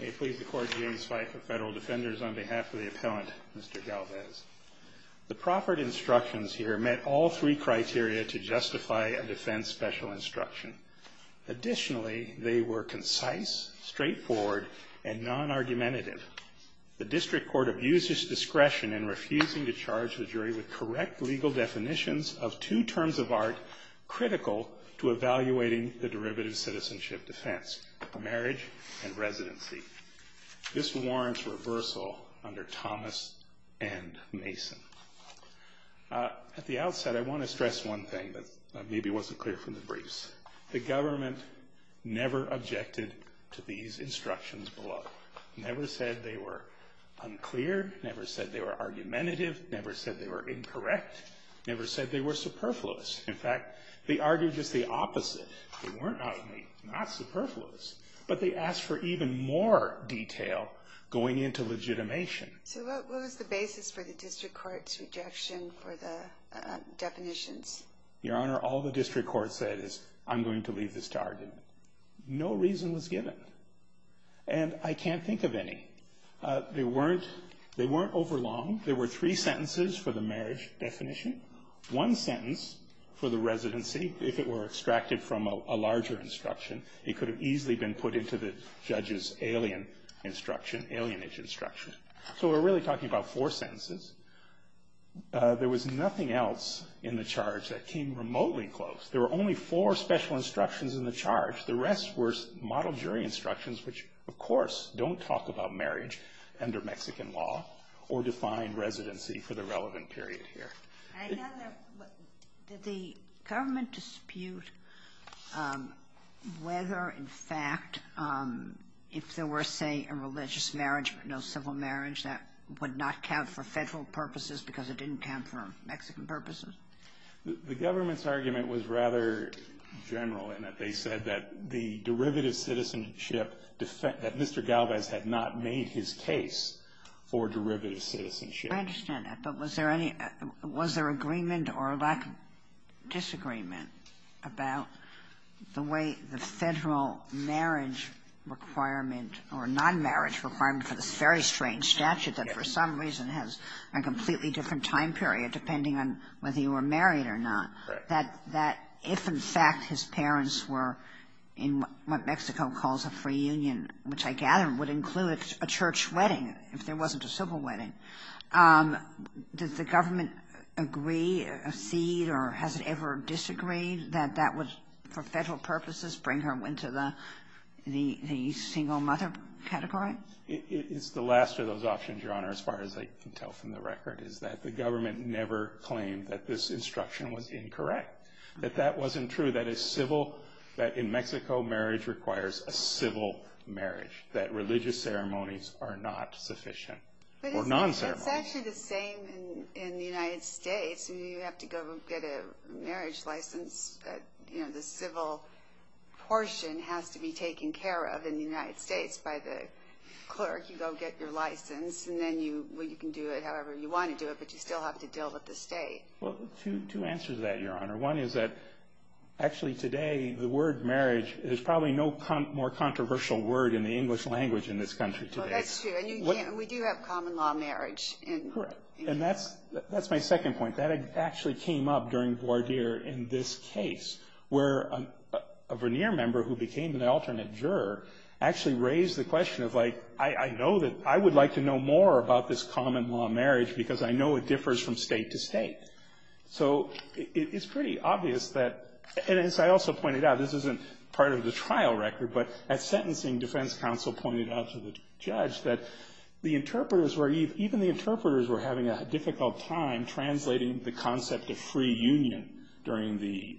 May it please the Court, the A's fight for federal defenders on behalf of the appellant, Mr. Galvez. The proffered instructions here met all three criteria to justify a defense special instruction. Additionally, they were concise, straightforward, and non-argumentative. The district court abused its discretion in refusing to charge the jury with correct legal definitions of two terms of art This warrants reversal under Thomas and Mason. At the outset, I want to stress one thing that maybe wasn't clear from the briefs. The government never objected to these instructions below. Never said they were unclear. Never said they were argumentative. Never said they were incorrect. Never said they were superfluous. In fact, they argued just the opposite. They weren't not superfluous. But they asked for even more detail going into legitimation. So what was the basis for the district court's rejection for the definitions? Your Honor, all the district court said is, I'm going to leave this to argument. No reason was given. And I can't think of any. They weren't overlong. There were three sentences for the marriage definition. One sentence for the residency, if it were extracted from a larger instruction. It could have easily been put into the judge's alien instruction, alienage instruction. So we're really talking about four sentences. There was nothing else in the charge that came remotely close. There were only four special instructions in the charge. The rest were model jury instructions, which of course don't talk about marriage under Mexican law or define residency for the relevant period here. Did the government dispute whether, in fact, if there were, say, a religious marriage but no civil marriage, that would not count for Federal purposes because it didn't count for Mexican purposes? The government's argument was rather general in that they said that the derivative citizenship, that Mr. Galvez had not made his case for derivative citizenship. I understand that. But was there agreement or a lack of disagreement about the way the Federal marriage requirement or non-marriage requirement for this very strange statute that for some reason has a completely different time period depending on whether you were married or not, that if, in fact, his parents were in what Mexico calls a free union, which I gather would include a church wedding, if there wasn't a civil wedding, did the government agree, accede, or has it ever disagreed that that would, for Federal purposes, bring her into the single mother category? It's the last of those options, Your Honor, as far as I can tell from the record, is that the government never claimed that this instruction was incorrect, that that wasn't true, that in Mexico marriage requires a civil marriage, that religious ceremonies are not sufficient, or non-ceremonies. But it's actually the same in the United States. You have to go get a marriage license. The civil portion has to be taken care of in the United States by the clerk. You go get your license, and then you can do it however you want to do it, but you still have to deal with the state. Well, two answers to that, Your Honor. One is that actually today the word marriage is probably no more controversial word in the English language in this country today. That's true, and we do have common law marriage. Correct. And that's my second point. That actually came up during voir dire in this case, where a Vernier member who became an alternate juror actually raised the question of, like, I know that I would like to know more about this common law marriage because I know it differs from state to state. So it's pretty obvious that, and as I also pointed out, this isn't part of the trial record, but at sentencing defense counsel pointed out to the judge that the interpreters were, even the interpreters were having a difficult time translating the concept of free union during the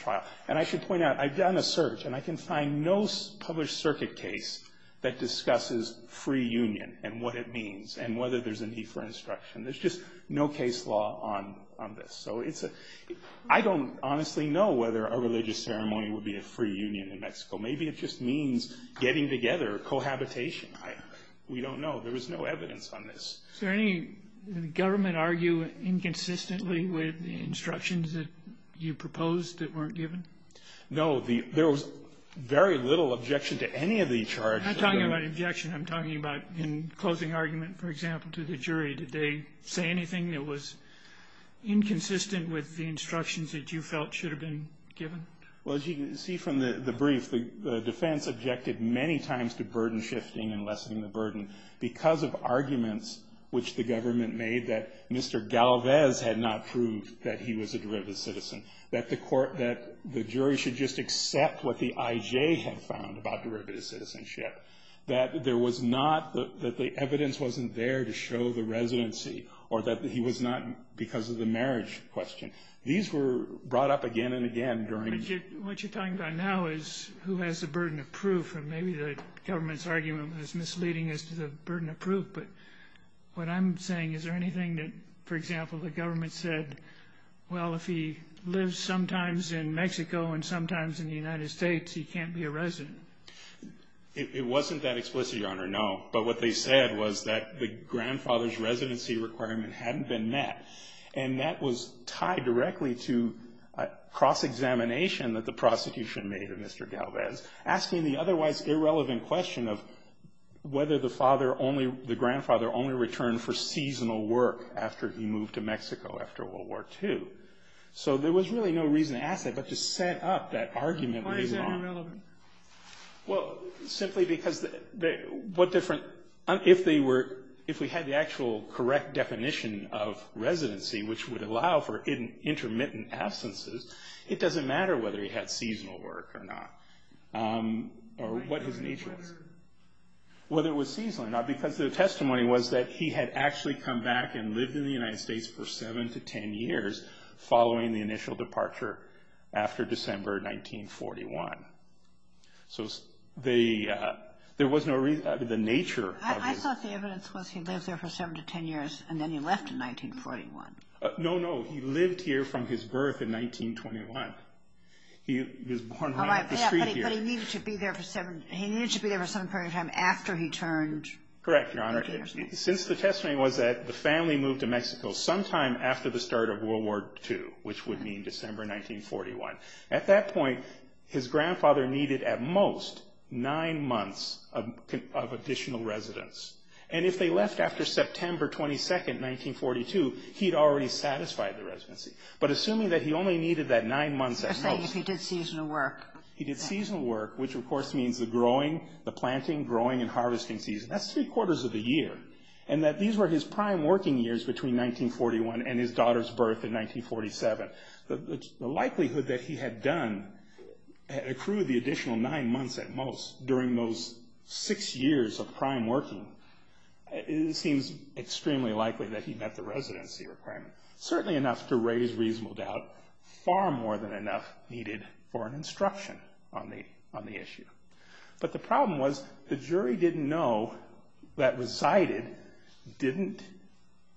trial. And I should point out, I've done a search, and I can find no published circuit case that discusses free union and what it means and whether there's a need for instruction. There's just no case law on this. So I don't honestly know whether a religious ceremony would be a free union in Mexico. Maybe it just means getting together, cohabitation. We don't know. There was no evidence on this. Did the government argue inconsistently with the instructions that you proposed that weren't given? No. There was very little objection to any of the charges. I'm not talking about objection. I'm talking about in closing argument, for example, to the jury, did they say anything that was inconsistent with the instructions that you felt should have been given? Well, as you can see from the brief, the defense objected many times to burden shifting and lessening the burden because of arguments which the government made that Mr. Galvez had not proved that he was a derivative citizen, that the jury should just accept what the IJ had found about derivative citizenship, that there was not, that the evidence wasn't there to show the residency or that he was not because of the marriage question. These were brought up again and again during. What you're talking about now is who has the burden of proof and maybe the government's argument was misleading as to the burden of proof. But what I'm saying, is there anything that, for example, the government said, well, if he lives sometimes in Mexico and sometimes in the United States, he can't be a resident? It wasn't that explicit, Your Honor, no. But what they said was that the grandfather's residency requirement hadn't been met. And that was tied directly to a cross-examination that the prosecution made of Mr. Galvez, asking the otherwise irrelevant question of whether the grandfather only returned for seasonal work after he moved to Mexico after World War II. So there was really no reason to ask that, but to set up that argument later on. Well, simply because what different, if they were, if we had the actual correct definition of residency, which would allow for intermittent absences, it doesn't matter whether he had seasonal work or not, or what his nature was. Whether it was seasonal or not, because the testimony was that he had actually come back and lived in the United States for seven to ten years following the initial departure after December 1941. So there was no reason, the nature of his... I thought the evidence was he lived there for seven to ten years and then he left in 1941. No, no, he lived here from his birth in 1921. He was born right up the street here. But he needed to be there for some period of time after he turned... Correct, Your Honor. Since the testimony was that the family moved to Mexico sometime after the start of World War II, which would mean December 1941. At that point, his grandfather needed at most nine months of additional residence. And if they left after September 22, 1942, he'd already satisfied the residency. But assuming that he only needed that nine months at most... I was saying if he did seasonal work. He did seasonal work, which of course means the growing, the planting, growing and harvesting season. That's three quarters of the year. And that these were his prime working years between 1941 and his daughter's birth in 1947. The likelihood that he had accrued the additional nine months at most during those six years of prime working seems extremely likely that he met the residency requirement. Certainly enough to raise reasonable doubt. Far more than enough needed for an instruction on the issue. But the problem was the jury didn't know that resided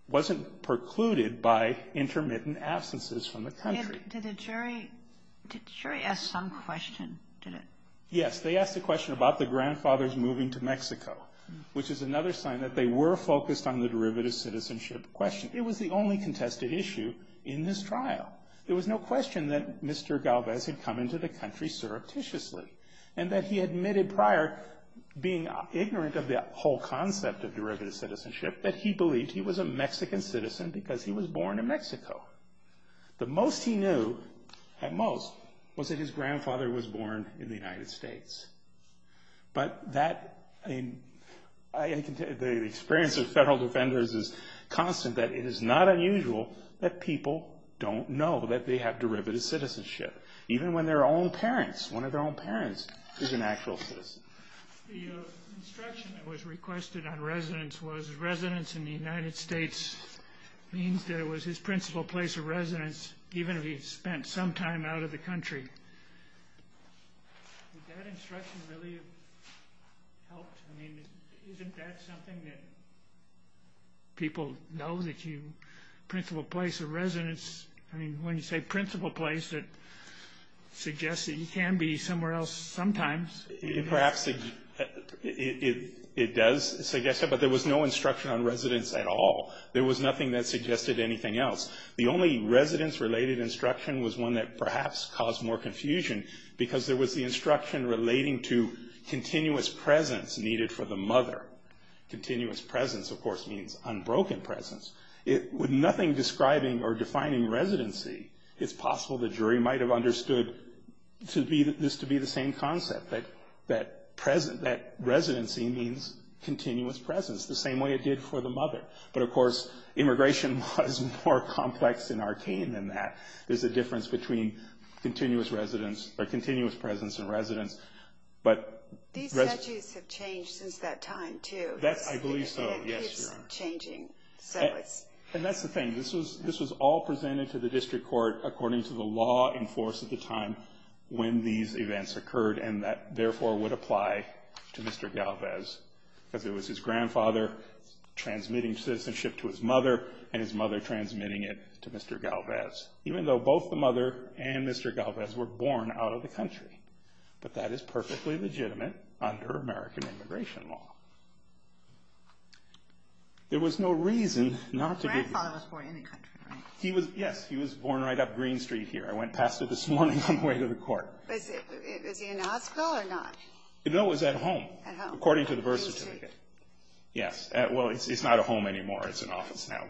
wasn't precluded by intermittent absences from the country. Did the jury ask some question? Yes, they asked a question about the grandfather's moving to Mexico. Which is another sign that they were focused on the derivative citizenship question. It was the only contested issue in this trial. There was no question that Mr. Galvez had come into the country surreptitiously. And that he admitted prior, being ignorant of the whole concept of derivative citizenship, that he believed he was a Mexican citizen because he was born in Mexico. The most he knew, at most, was that his grandfather was born in the United States. But the experience of federal defenders is constant that it is not unusual that people don't know that they have derivative citizenship. Even when their own parents, one of their own parents, is an actual citizen. The instruction that was requested on residence was residence in the United States means that it was his principal place of residence even if he had spent some time out of the country. Would that instruction really have helped? I mean, isn't that something that people know that you, principal place of residence, I mean, when you say principal place, it suggests that he can be somewhere else sometimes. Perhaps it does suggest that, but there was no instruction on residence at all. There was nothing that suggested anything else. The only residence-related instruction was one that perhaps caused more confusion because there was the instruction relating to continuous presence needed for the mother. Continuous presence, of course, means unbroken presence. With nothing describing or defining residency, it's possible the jury might have understood this to be the same concept, that residency means continuous presence, the same way it did for the mother. But, of course, immigration was more complex and arcane than that. There's a difference between continuous presence and residence. These statues have changed since that time, too. I believe so, yes, Your Honor. And that's the thing. This was all presented to the district court according to the law in force at the time when these events occurred, and that, therefore, would apply to Mr. Galvez because it was his grandfather transmitting citizenship to his mother and his mother transmitting it to Mr. Galvez, even though both the mother and Mr. Galvez were born out of the country. But that is perfectly legitimate under American immigration law. There was no reason not to give you... His grandfather was born in the country, right? Yes, he was born right up Green Street here. I went past it this morning on the way to the court. Was he in Osgoode or not? No, he was at home, according to the birth certificate. Green Street. Yes. Well, it's not a home anymore. It's an office now.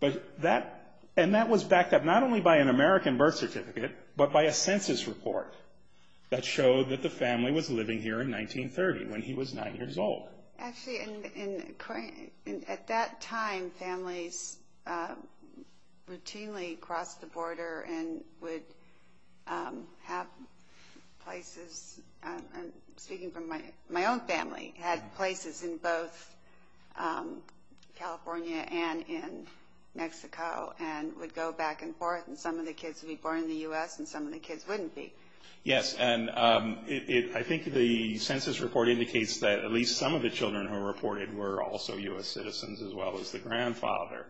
But that... And that was backed up not only by an American birth certificate but by a census report that showed that the family was living here in 1930 when he was 9 years old. Actually, at that time, families routinely crossed the border and would have places... I'm speaking from my own family, had places in both California and in Mexico and would go back and forth, and some of the kids would be born in the U.S. and some of the kids wouldn't be. Yes, and I think the census report indicates that at least some of the children who were reported were also U.S. citizens as well as the grandfather.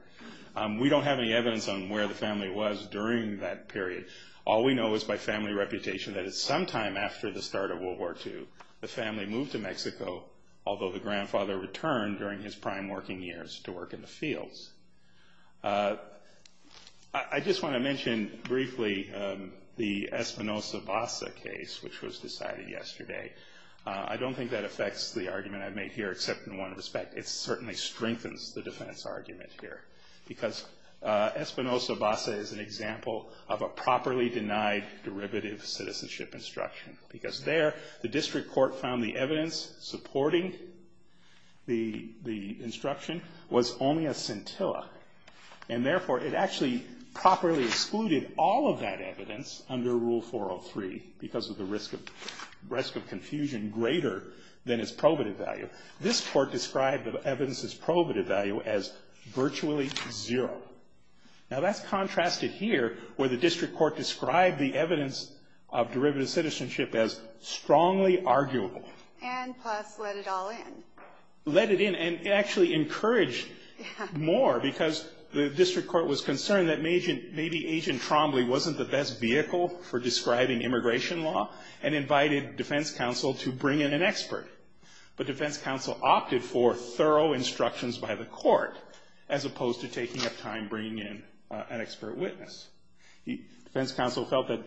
We don't have any evidence on where the family was during that period. All we know is by family reputation that it's sometime after the start of World War II the family moved to Mexico, although the grandfather returned during his prime working years to work in the fields. I just want to mention briefly the Espinosa-Basa case, which was decided yesterday. I don't think that affects the argument I've made here, except in one respect. It certainly strengthens the defense argument here because Espinosa-Basa is an example of a properly denied derivative citizenship instruction because there the district court found the evidence supporting the instruction was only a scintilla, and therefore it actually properly excluded all of that evidence under Rule 403 because of the risk of confusion greater than its probative value. This court described the evidence's probative value as virtually zero. Now that's contrasted here where the district court described the evidence of derivative citizenship as strongly arguable. And plus let it all in. Let it in. And it actually encouraged more because the district court was concerned that maybe Agent Trombley wasn't the best vehicle for describing immigration law and invited defense counsel to bring in an expert. But defense counsel opted for thorough instructions by the court as opposed to taking up time bringing in an expert witness. Defense counsel felt that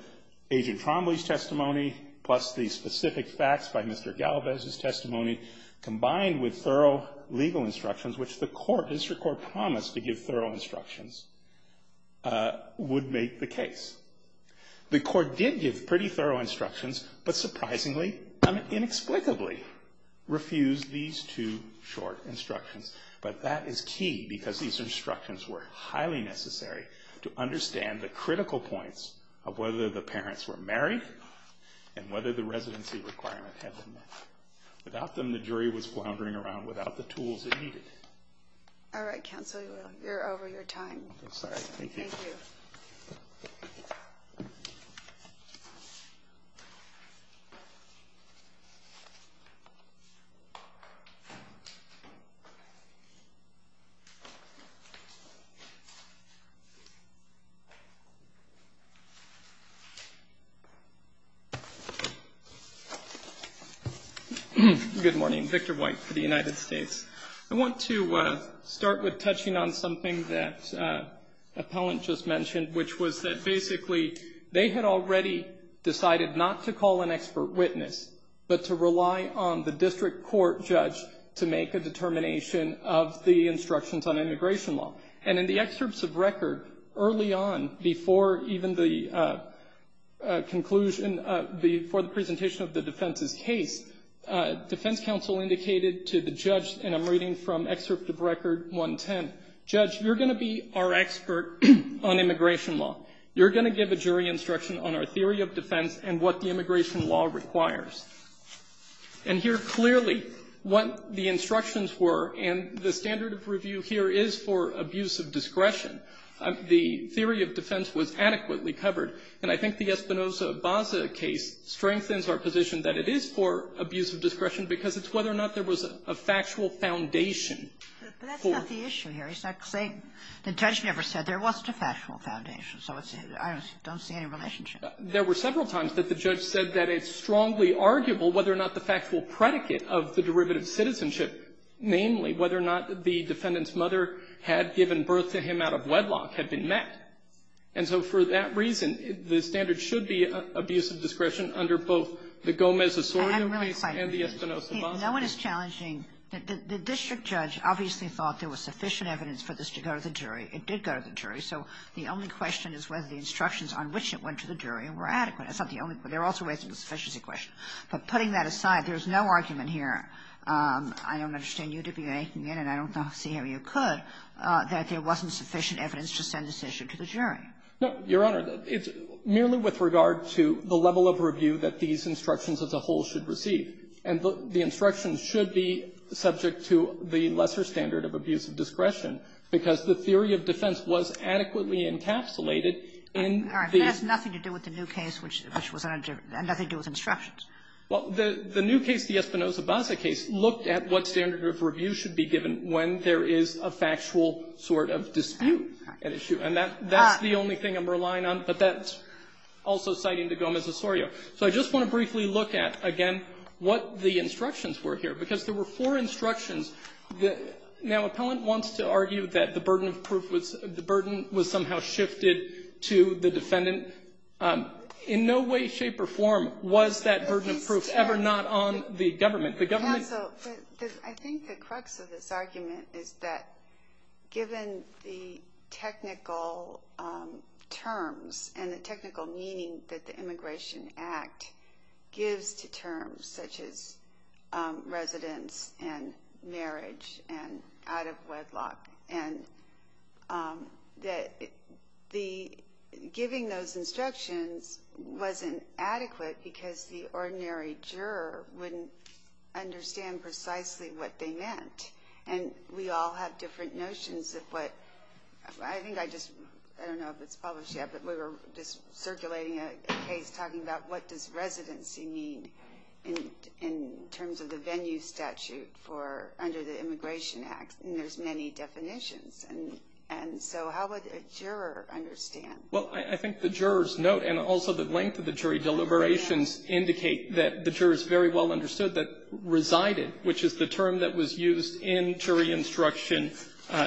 Agent Trombley's testimony plus the specific facts by Mr. Galvez's testimony combined with thorough legal instructions which the court, district court promised to give thorough instructions would make the case. The court did give pretty thorough instructions but surprisingly and inexplicably refused these two short instructions. But that is key because these instructions were highly necessary to understand the critical points of whether the parents were married and whether the residency requirement had been met. Without them the jury was floundering around without the tools it needed. All right, counsel. You're over your time. I'm sorry. Thank you. Thank you. Thank you. Good morning. Victor White for the United States. I want to start with touching on something that an appellant just mentioned which was that basically they had already decided not to call an expert witness but to rely on the district court judge to make a determination of the instructions on immigration law. And in the excerpts of record early on before even the conclusion, before the presentation of the defense's case, defense counsel indicated to the judge, and I'm reading from excerpt of record 110, judge, you're going to be our expert on immigration law. You're going to give a jury instruction on our theory of defense and what the immigration law requires. And here clearly what the instructions were, and the standard of review here is for abuse of discretion. The theory of defense was adequately covered, and I think the Espinoza-Baza case strengthens our position that it is for abuse of discretion because it's whether or not there was a factual foundation. Kagan. But that's not the issue here. The judge never said there wasn't a factual foundation. So I don't see any relationship. There were several times that the judge said that it's strongly arguable whether or not the factual predicate of the derivative citizenship, namely whether or not the defendant's mother had given birth to him out of wedlock, had been met. And so for that reason, the standard should be abuse of discretion under both the Gomez-Osorio case and the Espinoza-Baza. Kagan. No one is challenging. The district judge obviously thought there was sufficient evidence for this to go to the jury. It did go to the jury. So the only question is whether the instructions on which it went to the jury were adequate. That's not the only question. There are also ways it was a sufficiency question. But putting that aside, there's no argument here. I don't understand you to be making it, and I don't see how you could, that there wasn't sufficient evidence to send this issue to the jury. No, Your Honor. It's merely with regard to the level of review that these instructions as a whole should receive. And the instructions should be subject to the lesser standard of abuse of discretion because the theory of defense was adequately encapsulated in the ---- All right. That has nothing to do with the new case, which was under ---- and nothing to do with instructions. Well, the new case, the Espinoza-Baza case, looked at what standard of review should be given when there is a factual sort of dispute, an issue. And that's the only thing I'm relying on, but that's also citing the Gomez-Osorio. So I just want to briefly look at, again, what the instructions were here. Because there were four instructions. Now, Appellant wants to argue that the burden of proof was the burden was somehow shifted to the defendant. In no way, shape, or form was that burden of proof ever not on the government. The government ---- Counsel, I think the crux of this argument is that given the technical terms and the terms such as residence and marriage and out of wedlock, and that the ---- giving those instructions wasn't adequate because the ordinary juror wouldn't understand precisely what they meant. And we all have different notions of what ---- I think I just ---- I don't know if it's published yet, but we were just circulating a case talking about what does residency mean in terms of the venue statute for under the Immigration Act. And there's many definitions. And so how would a juror understand? Well, I think the jurors note, and also the length of the jury deliberations indicate that the jurors very well understood that resided, which is the term that was used in jury instruction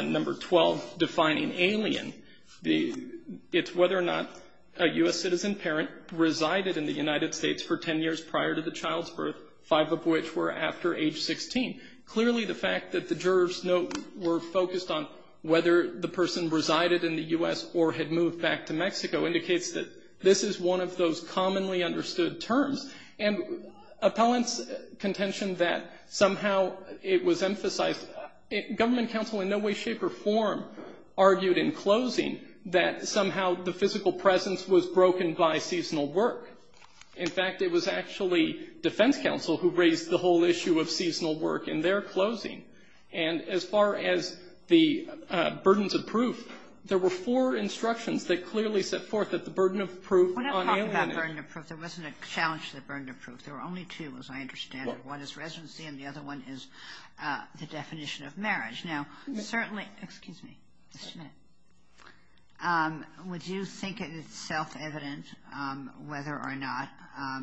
number 12, defining alien, the ---- it's whether or not a U.S. citizen parent resided in the United States for 10 years prior to the child's birth, five of which were after age 16. Clearly, the fact that the jurors note were focused on whether the person resided in the U.S. or had moved back to Mexico indicates that this is one of those commonly understood terms. And appellant's contention that somehow it was emphasized, government counsel in no way, shape, or form argued in closing that somehow the physical presence was broken by seasonal work. In fact, it was actually defense counsel who raised the whole issue of seasonal work in their closing. And as far as the burdens of proof, there were four instructions that clearly set forth that the burden of proof on alien ---- There wasn't a challenge to the burden of proof. There were only two, as I understand it. One is residency and the other one is the definition of marriage. Now, certainly ---- excuse me, just a minute. Would you think it is self-evident whether or not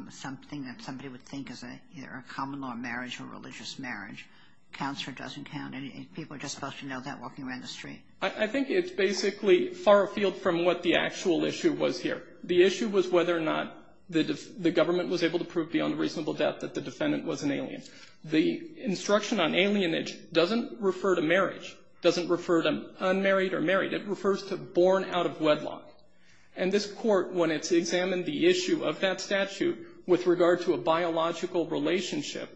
something that somebody would think is either a common law marriage or a religious marriage counts or doesn't count? People are just supposed to know that walking around the street. I think it's basically far afield from what the actual issue was here. The issue was whether or not the government was able to prove beyond reasonable doubt that the defendant was an alien. The instruction on alienage doesn't refer to marriage, doesn't refer to unmarried or married. It refers to born out of wedlock. And this Court, when it's examined the issue of that statute with regard to a biological relationship,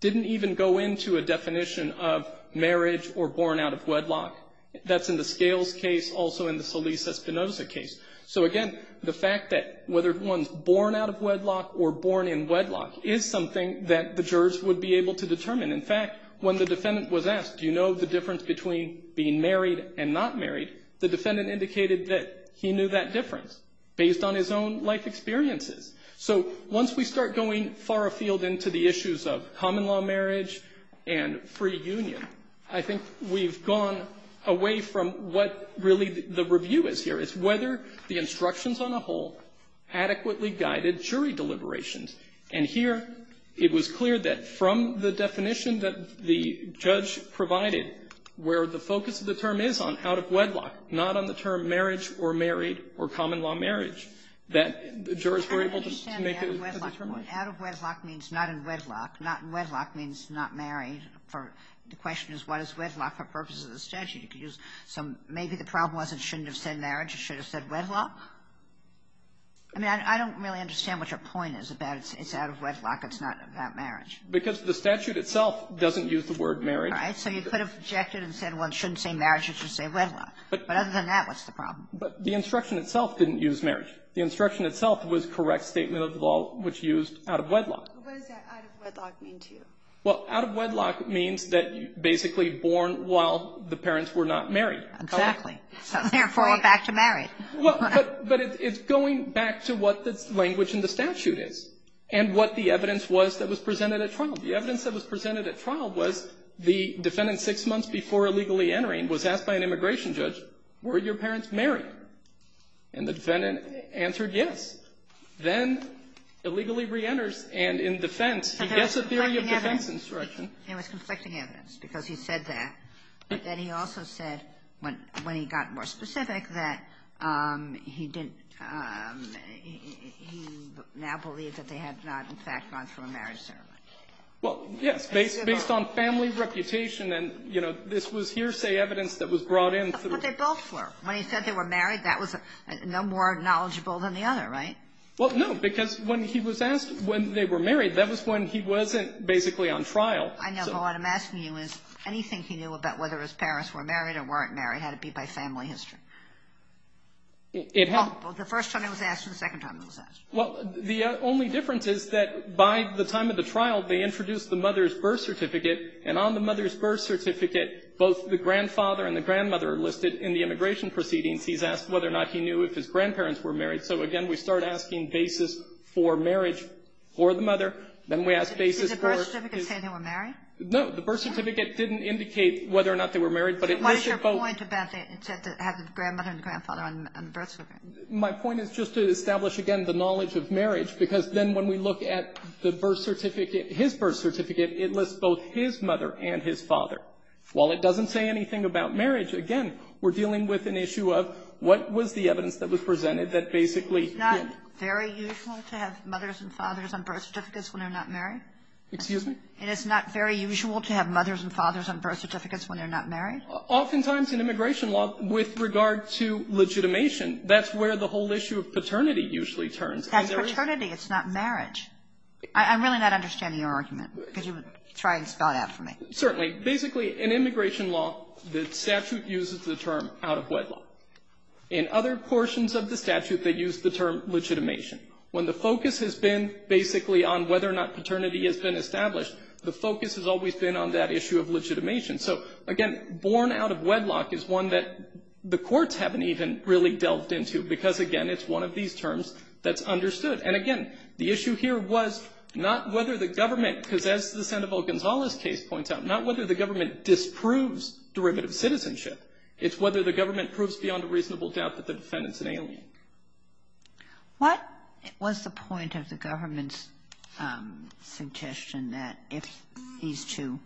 didn't even go into a definition of marriage or born out of wedlock. That's in the Scales case, also in the Solis-Espinosa case. So, again, the fact that whether one's born out of wedlock or born in wedlock is something that the jurors would be able to determine. In fact, when the defendant was asked, do you know the difference between being married and not married, the defendant indicated that he knew that difference based on his own life experiences. So once we start going far afield into the issues of common law marriage and free union, I think we've gone away from what really the review is here. It's whether the instructions on a whole adequately guided jury deliberations. And here it was clear that from the definition that the judge provided, where the focus of the term is on out of wedlock, not on the term marriage or married or common law marriage, that the jurors were able to make a determination. Out of wedlock means not in wedlock. Not in wedlock means not married. The question is, what is wedlock for purposes of the statute? You could use some – maybe the problem wasn't shouldn't have said marriage. It should have said wedlock. I mean, I don't really understand what your point is about it's out of wedlock. It's not about marriage. Because the statute itself doesn't use the word marriage. Right. So you could have objected and said one shouldn't say marriage. It should say wedlock. But other than that, what's the problem? But the instruction itself didn't use marriage. The instruction itself was correct statement of the law, which used out of wedlock. What does that out of wedlock mean to you? Well, out of wedlock means that you're basically born while the parents were not married. Exactly. Therefore, you're back to married. Well, but it's going back to what the language in the statute is and what the evidence was that was presented at trial. The evidence that was presented at trial was the defendant six months before illegally entering was asked by an immigration judge, were your parents married? And the defendant answered yes. Then illegally reenters. And in defense, he gets a theory of defense instruction. It was conflicting evidence because he said that. But then he also said when he got more specific that he didn't he now believed that they had not, in fact, gone through a marriage ceremony. Well, yes. Based on family reputation and, you know, this was hearsay evidence that was brought in through the court. That's what they both were. When he said they were married, that was no more knowledgeable than the other. Right? Well, no. Because when he was asked when they were married, that was when he wasn't basically on trial. I know. But what I'm asking you is anything he knew about whether his parents were married or weren't married had to be by family history. It had. Well, the first time it was asked and the second time it was asked. Well, the only difference is that by the time of the trial, they introduced the mother's birth certificate. And on the mother's birth certificate, both the grandfather and the grandmother are listed in the immigration proceedings. He's asked whether or not he knew if his grandparents were married. So, again, we start asking basis for marriage for the mother. Then we ask basis for. Did the birth certificate say they were married? No. The birth certificate didn't indicate whether or not they were married, but it listed both. But what is your point about it said that it had the grandmother and grandfather on the birth certificate? My point is just to establish, again, the knowledge of marriage, because then when we look at the birth certificate, his birth certificate, it lists both his mother and his father. While it doesn't say anything about marriage, again, we're dealing with an issue of what was the evidence that was presented that basically hit. It's not very usual to have mothers and fathers on birth certificates when they're not married? Excuse me? And it's not very usual to have mothers and fathers on birth certificates when they're not married? Oftentimes in immigration law, with regard to legitimation, that's where the whole issue of paternity usually turns. That's paternity. It's not marriage. I'm really not understanding your argument. Could you try and spell it out for me? Certainly. Basically, in immigration law, the statute uses the term out-of-wedlock. In other portions of the statute, they use the term legitimation. When the focus has been basically on whether or not paternity has been established, the focus has always been on that issue of legitimation. So, again, born out-of-wedlock is one that the courts haven't even really delved into, because, again, it's one of these terms that's understood. And, again, the issue here was not whether the government, because as the Senate case points out, not whether the government disproves derivative citizenship. It's whether the government proves beyond a reasonable doubt that the defendant's an alien. What was the point of the government's suggestion that if these two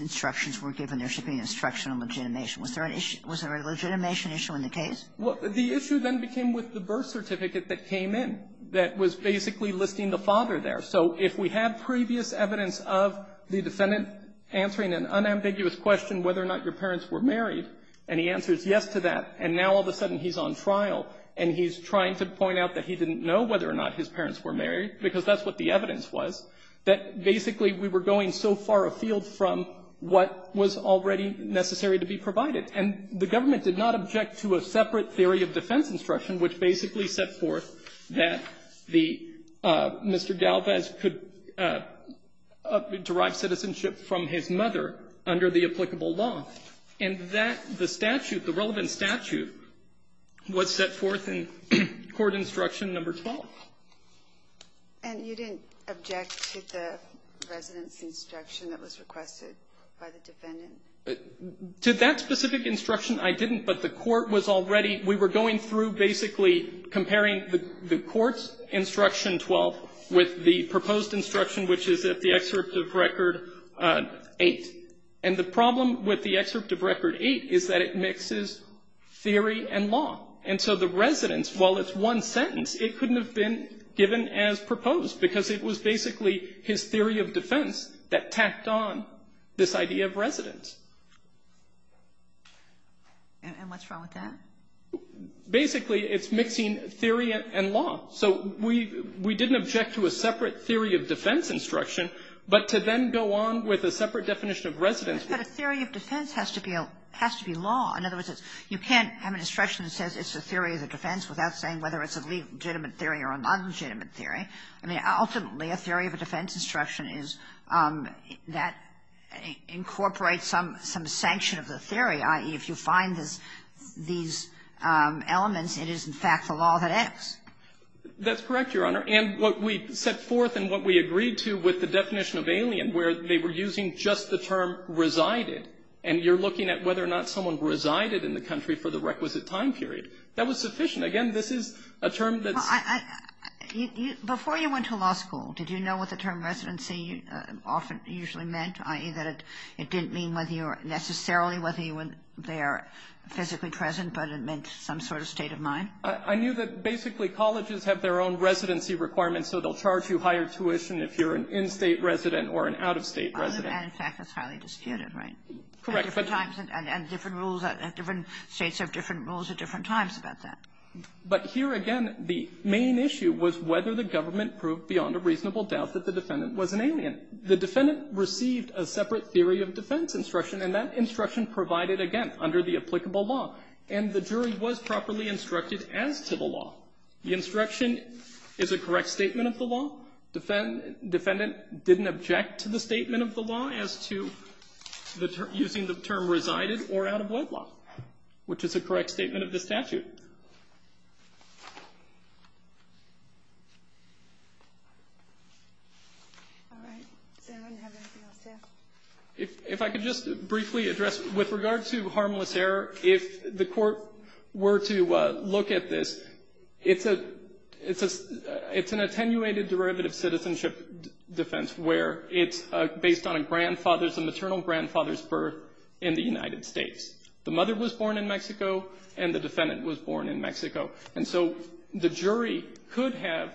instructions were given, there should be an instruction on legitimation? Was there an issue? Was there a legitimation issue in the case? Well, the issue then became with the birth certificate that came in that was basically listing the father there. So if we had previous evidence of the defendant answering an unambiguous question whether or not your parents were married, and he answers yes to that, and now all of a sudden he's on trial, and he's trying to point out that he didn't know whether or not his parents were married, because that's what the evidence was, that basically we were going so far afield from what was already necessary to be provided. And the government did not object to a separate theory of defense instruction which basically set forth that the Mr. Galvez could derive citizenship from his mother under the applicable law. And that, the statute, the relevant statute, was set forth in court instruction number 12. And you didn't object to the residence instruction that was requested by the defendant? To that specific instruction, I didn't. But the court was already we were going through basically comparing the court's instruction 12 with the proposed instruction which is at the excerpt of record 8. And the problem with the excerpt of record 8 is that it mixes theory and law. And so the residence, while it's one sentence, it couldn't have been given as proposed because it was basically his theory of defense that tacked on this idea of residence. And what's wrong with that? Basically, it's mixing theory and law. So we didn't object to a separate theory of defense instruction. But to then go on with a separate definition of residence. But a theory of defense has to be a law. In other words, you can't have an instruction that says it's a theory of defense without saying whether it's a legitimate theory or a nonlegitimate theory. Ultimately, a theory of defense instruction is that incorporates some sanction of the theory, i.e., if you find these elements, it is, in fact, the law that acts. That's correct, Your Honor. And what we set forth and what we agreed to with the definition of alien, where they were using just the term resided, and you're looking at whether or not someone resided in the country for the requisite time period, that was sufficient. Again, this is a term that's… Before you went to law school, did you know what the term residency usually meant? I.e., that it didn't mean necessarily whether they are physically present, but it meant some sort of state of mind? I knew that, basically, colleges have their own residency requirements, so they'll charge you higher tuition if you're an in-state resident or an out-of-state resident. And, in fact, that's highly disputed, right? Correct. And different rules at different states have different rules at different times about that. But here, again, the main issue was whether the government proved beyond a reasonable doubt that the defendant was an alien. The defendant received a separate theory of defense instruction, and that instruction provided, again, under the applicable law. And the jury was properly instructed as to the law. The instruction is a correct statement of the law. The defendant didn't object to the statement of the law as to using the term resided or out-of-wedlock, which is a correct statement of the statute. All right. Does anyone have anything else to add? If I could just briefly address, with regard to harmless error, if the Court were to defense where it's based on a grandfather's, a maternal grandfather's birth in the United States. The mother was born in Mexico, and the defendant was born in Mexico. And so the jury could have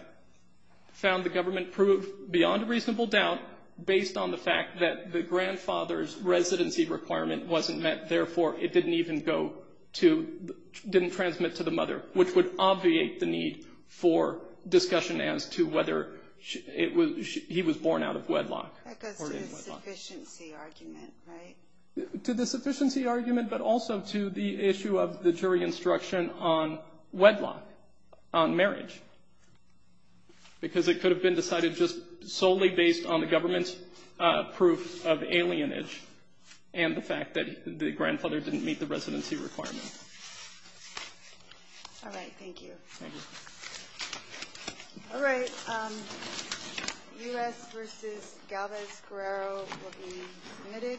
found the government proved beyond a reasonable doubt based on the fact that the grandfather's residency requirement wasn't met. Therefore, it didn't even go to, didn't transmit to the mother, which would obviate the need for discussion as to whether he was born out of wedlock or in wedlock. That goes to the sufficiency argument, right? To the sufficiency argument, but also to the issue of the jury instruction on wedlock, on marriage, because it could have been decided just solely based on the government's proof of alienage and the fact that the grandfather didn't meet the residency requirement. All right. Thank you. Thank you. All right. U.S. v. Galvez-Guerrero will be submitted.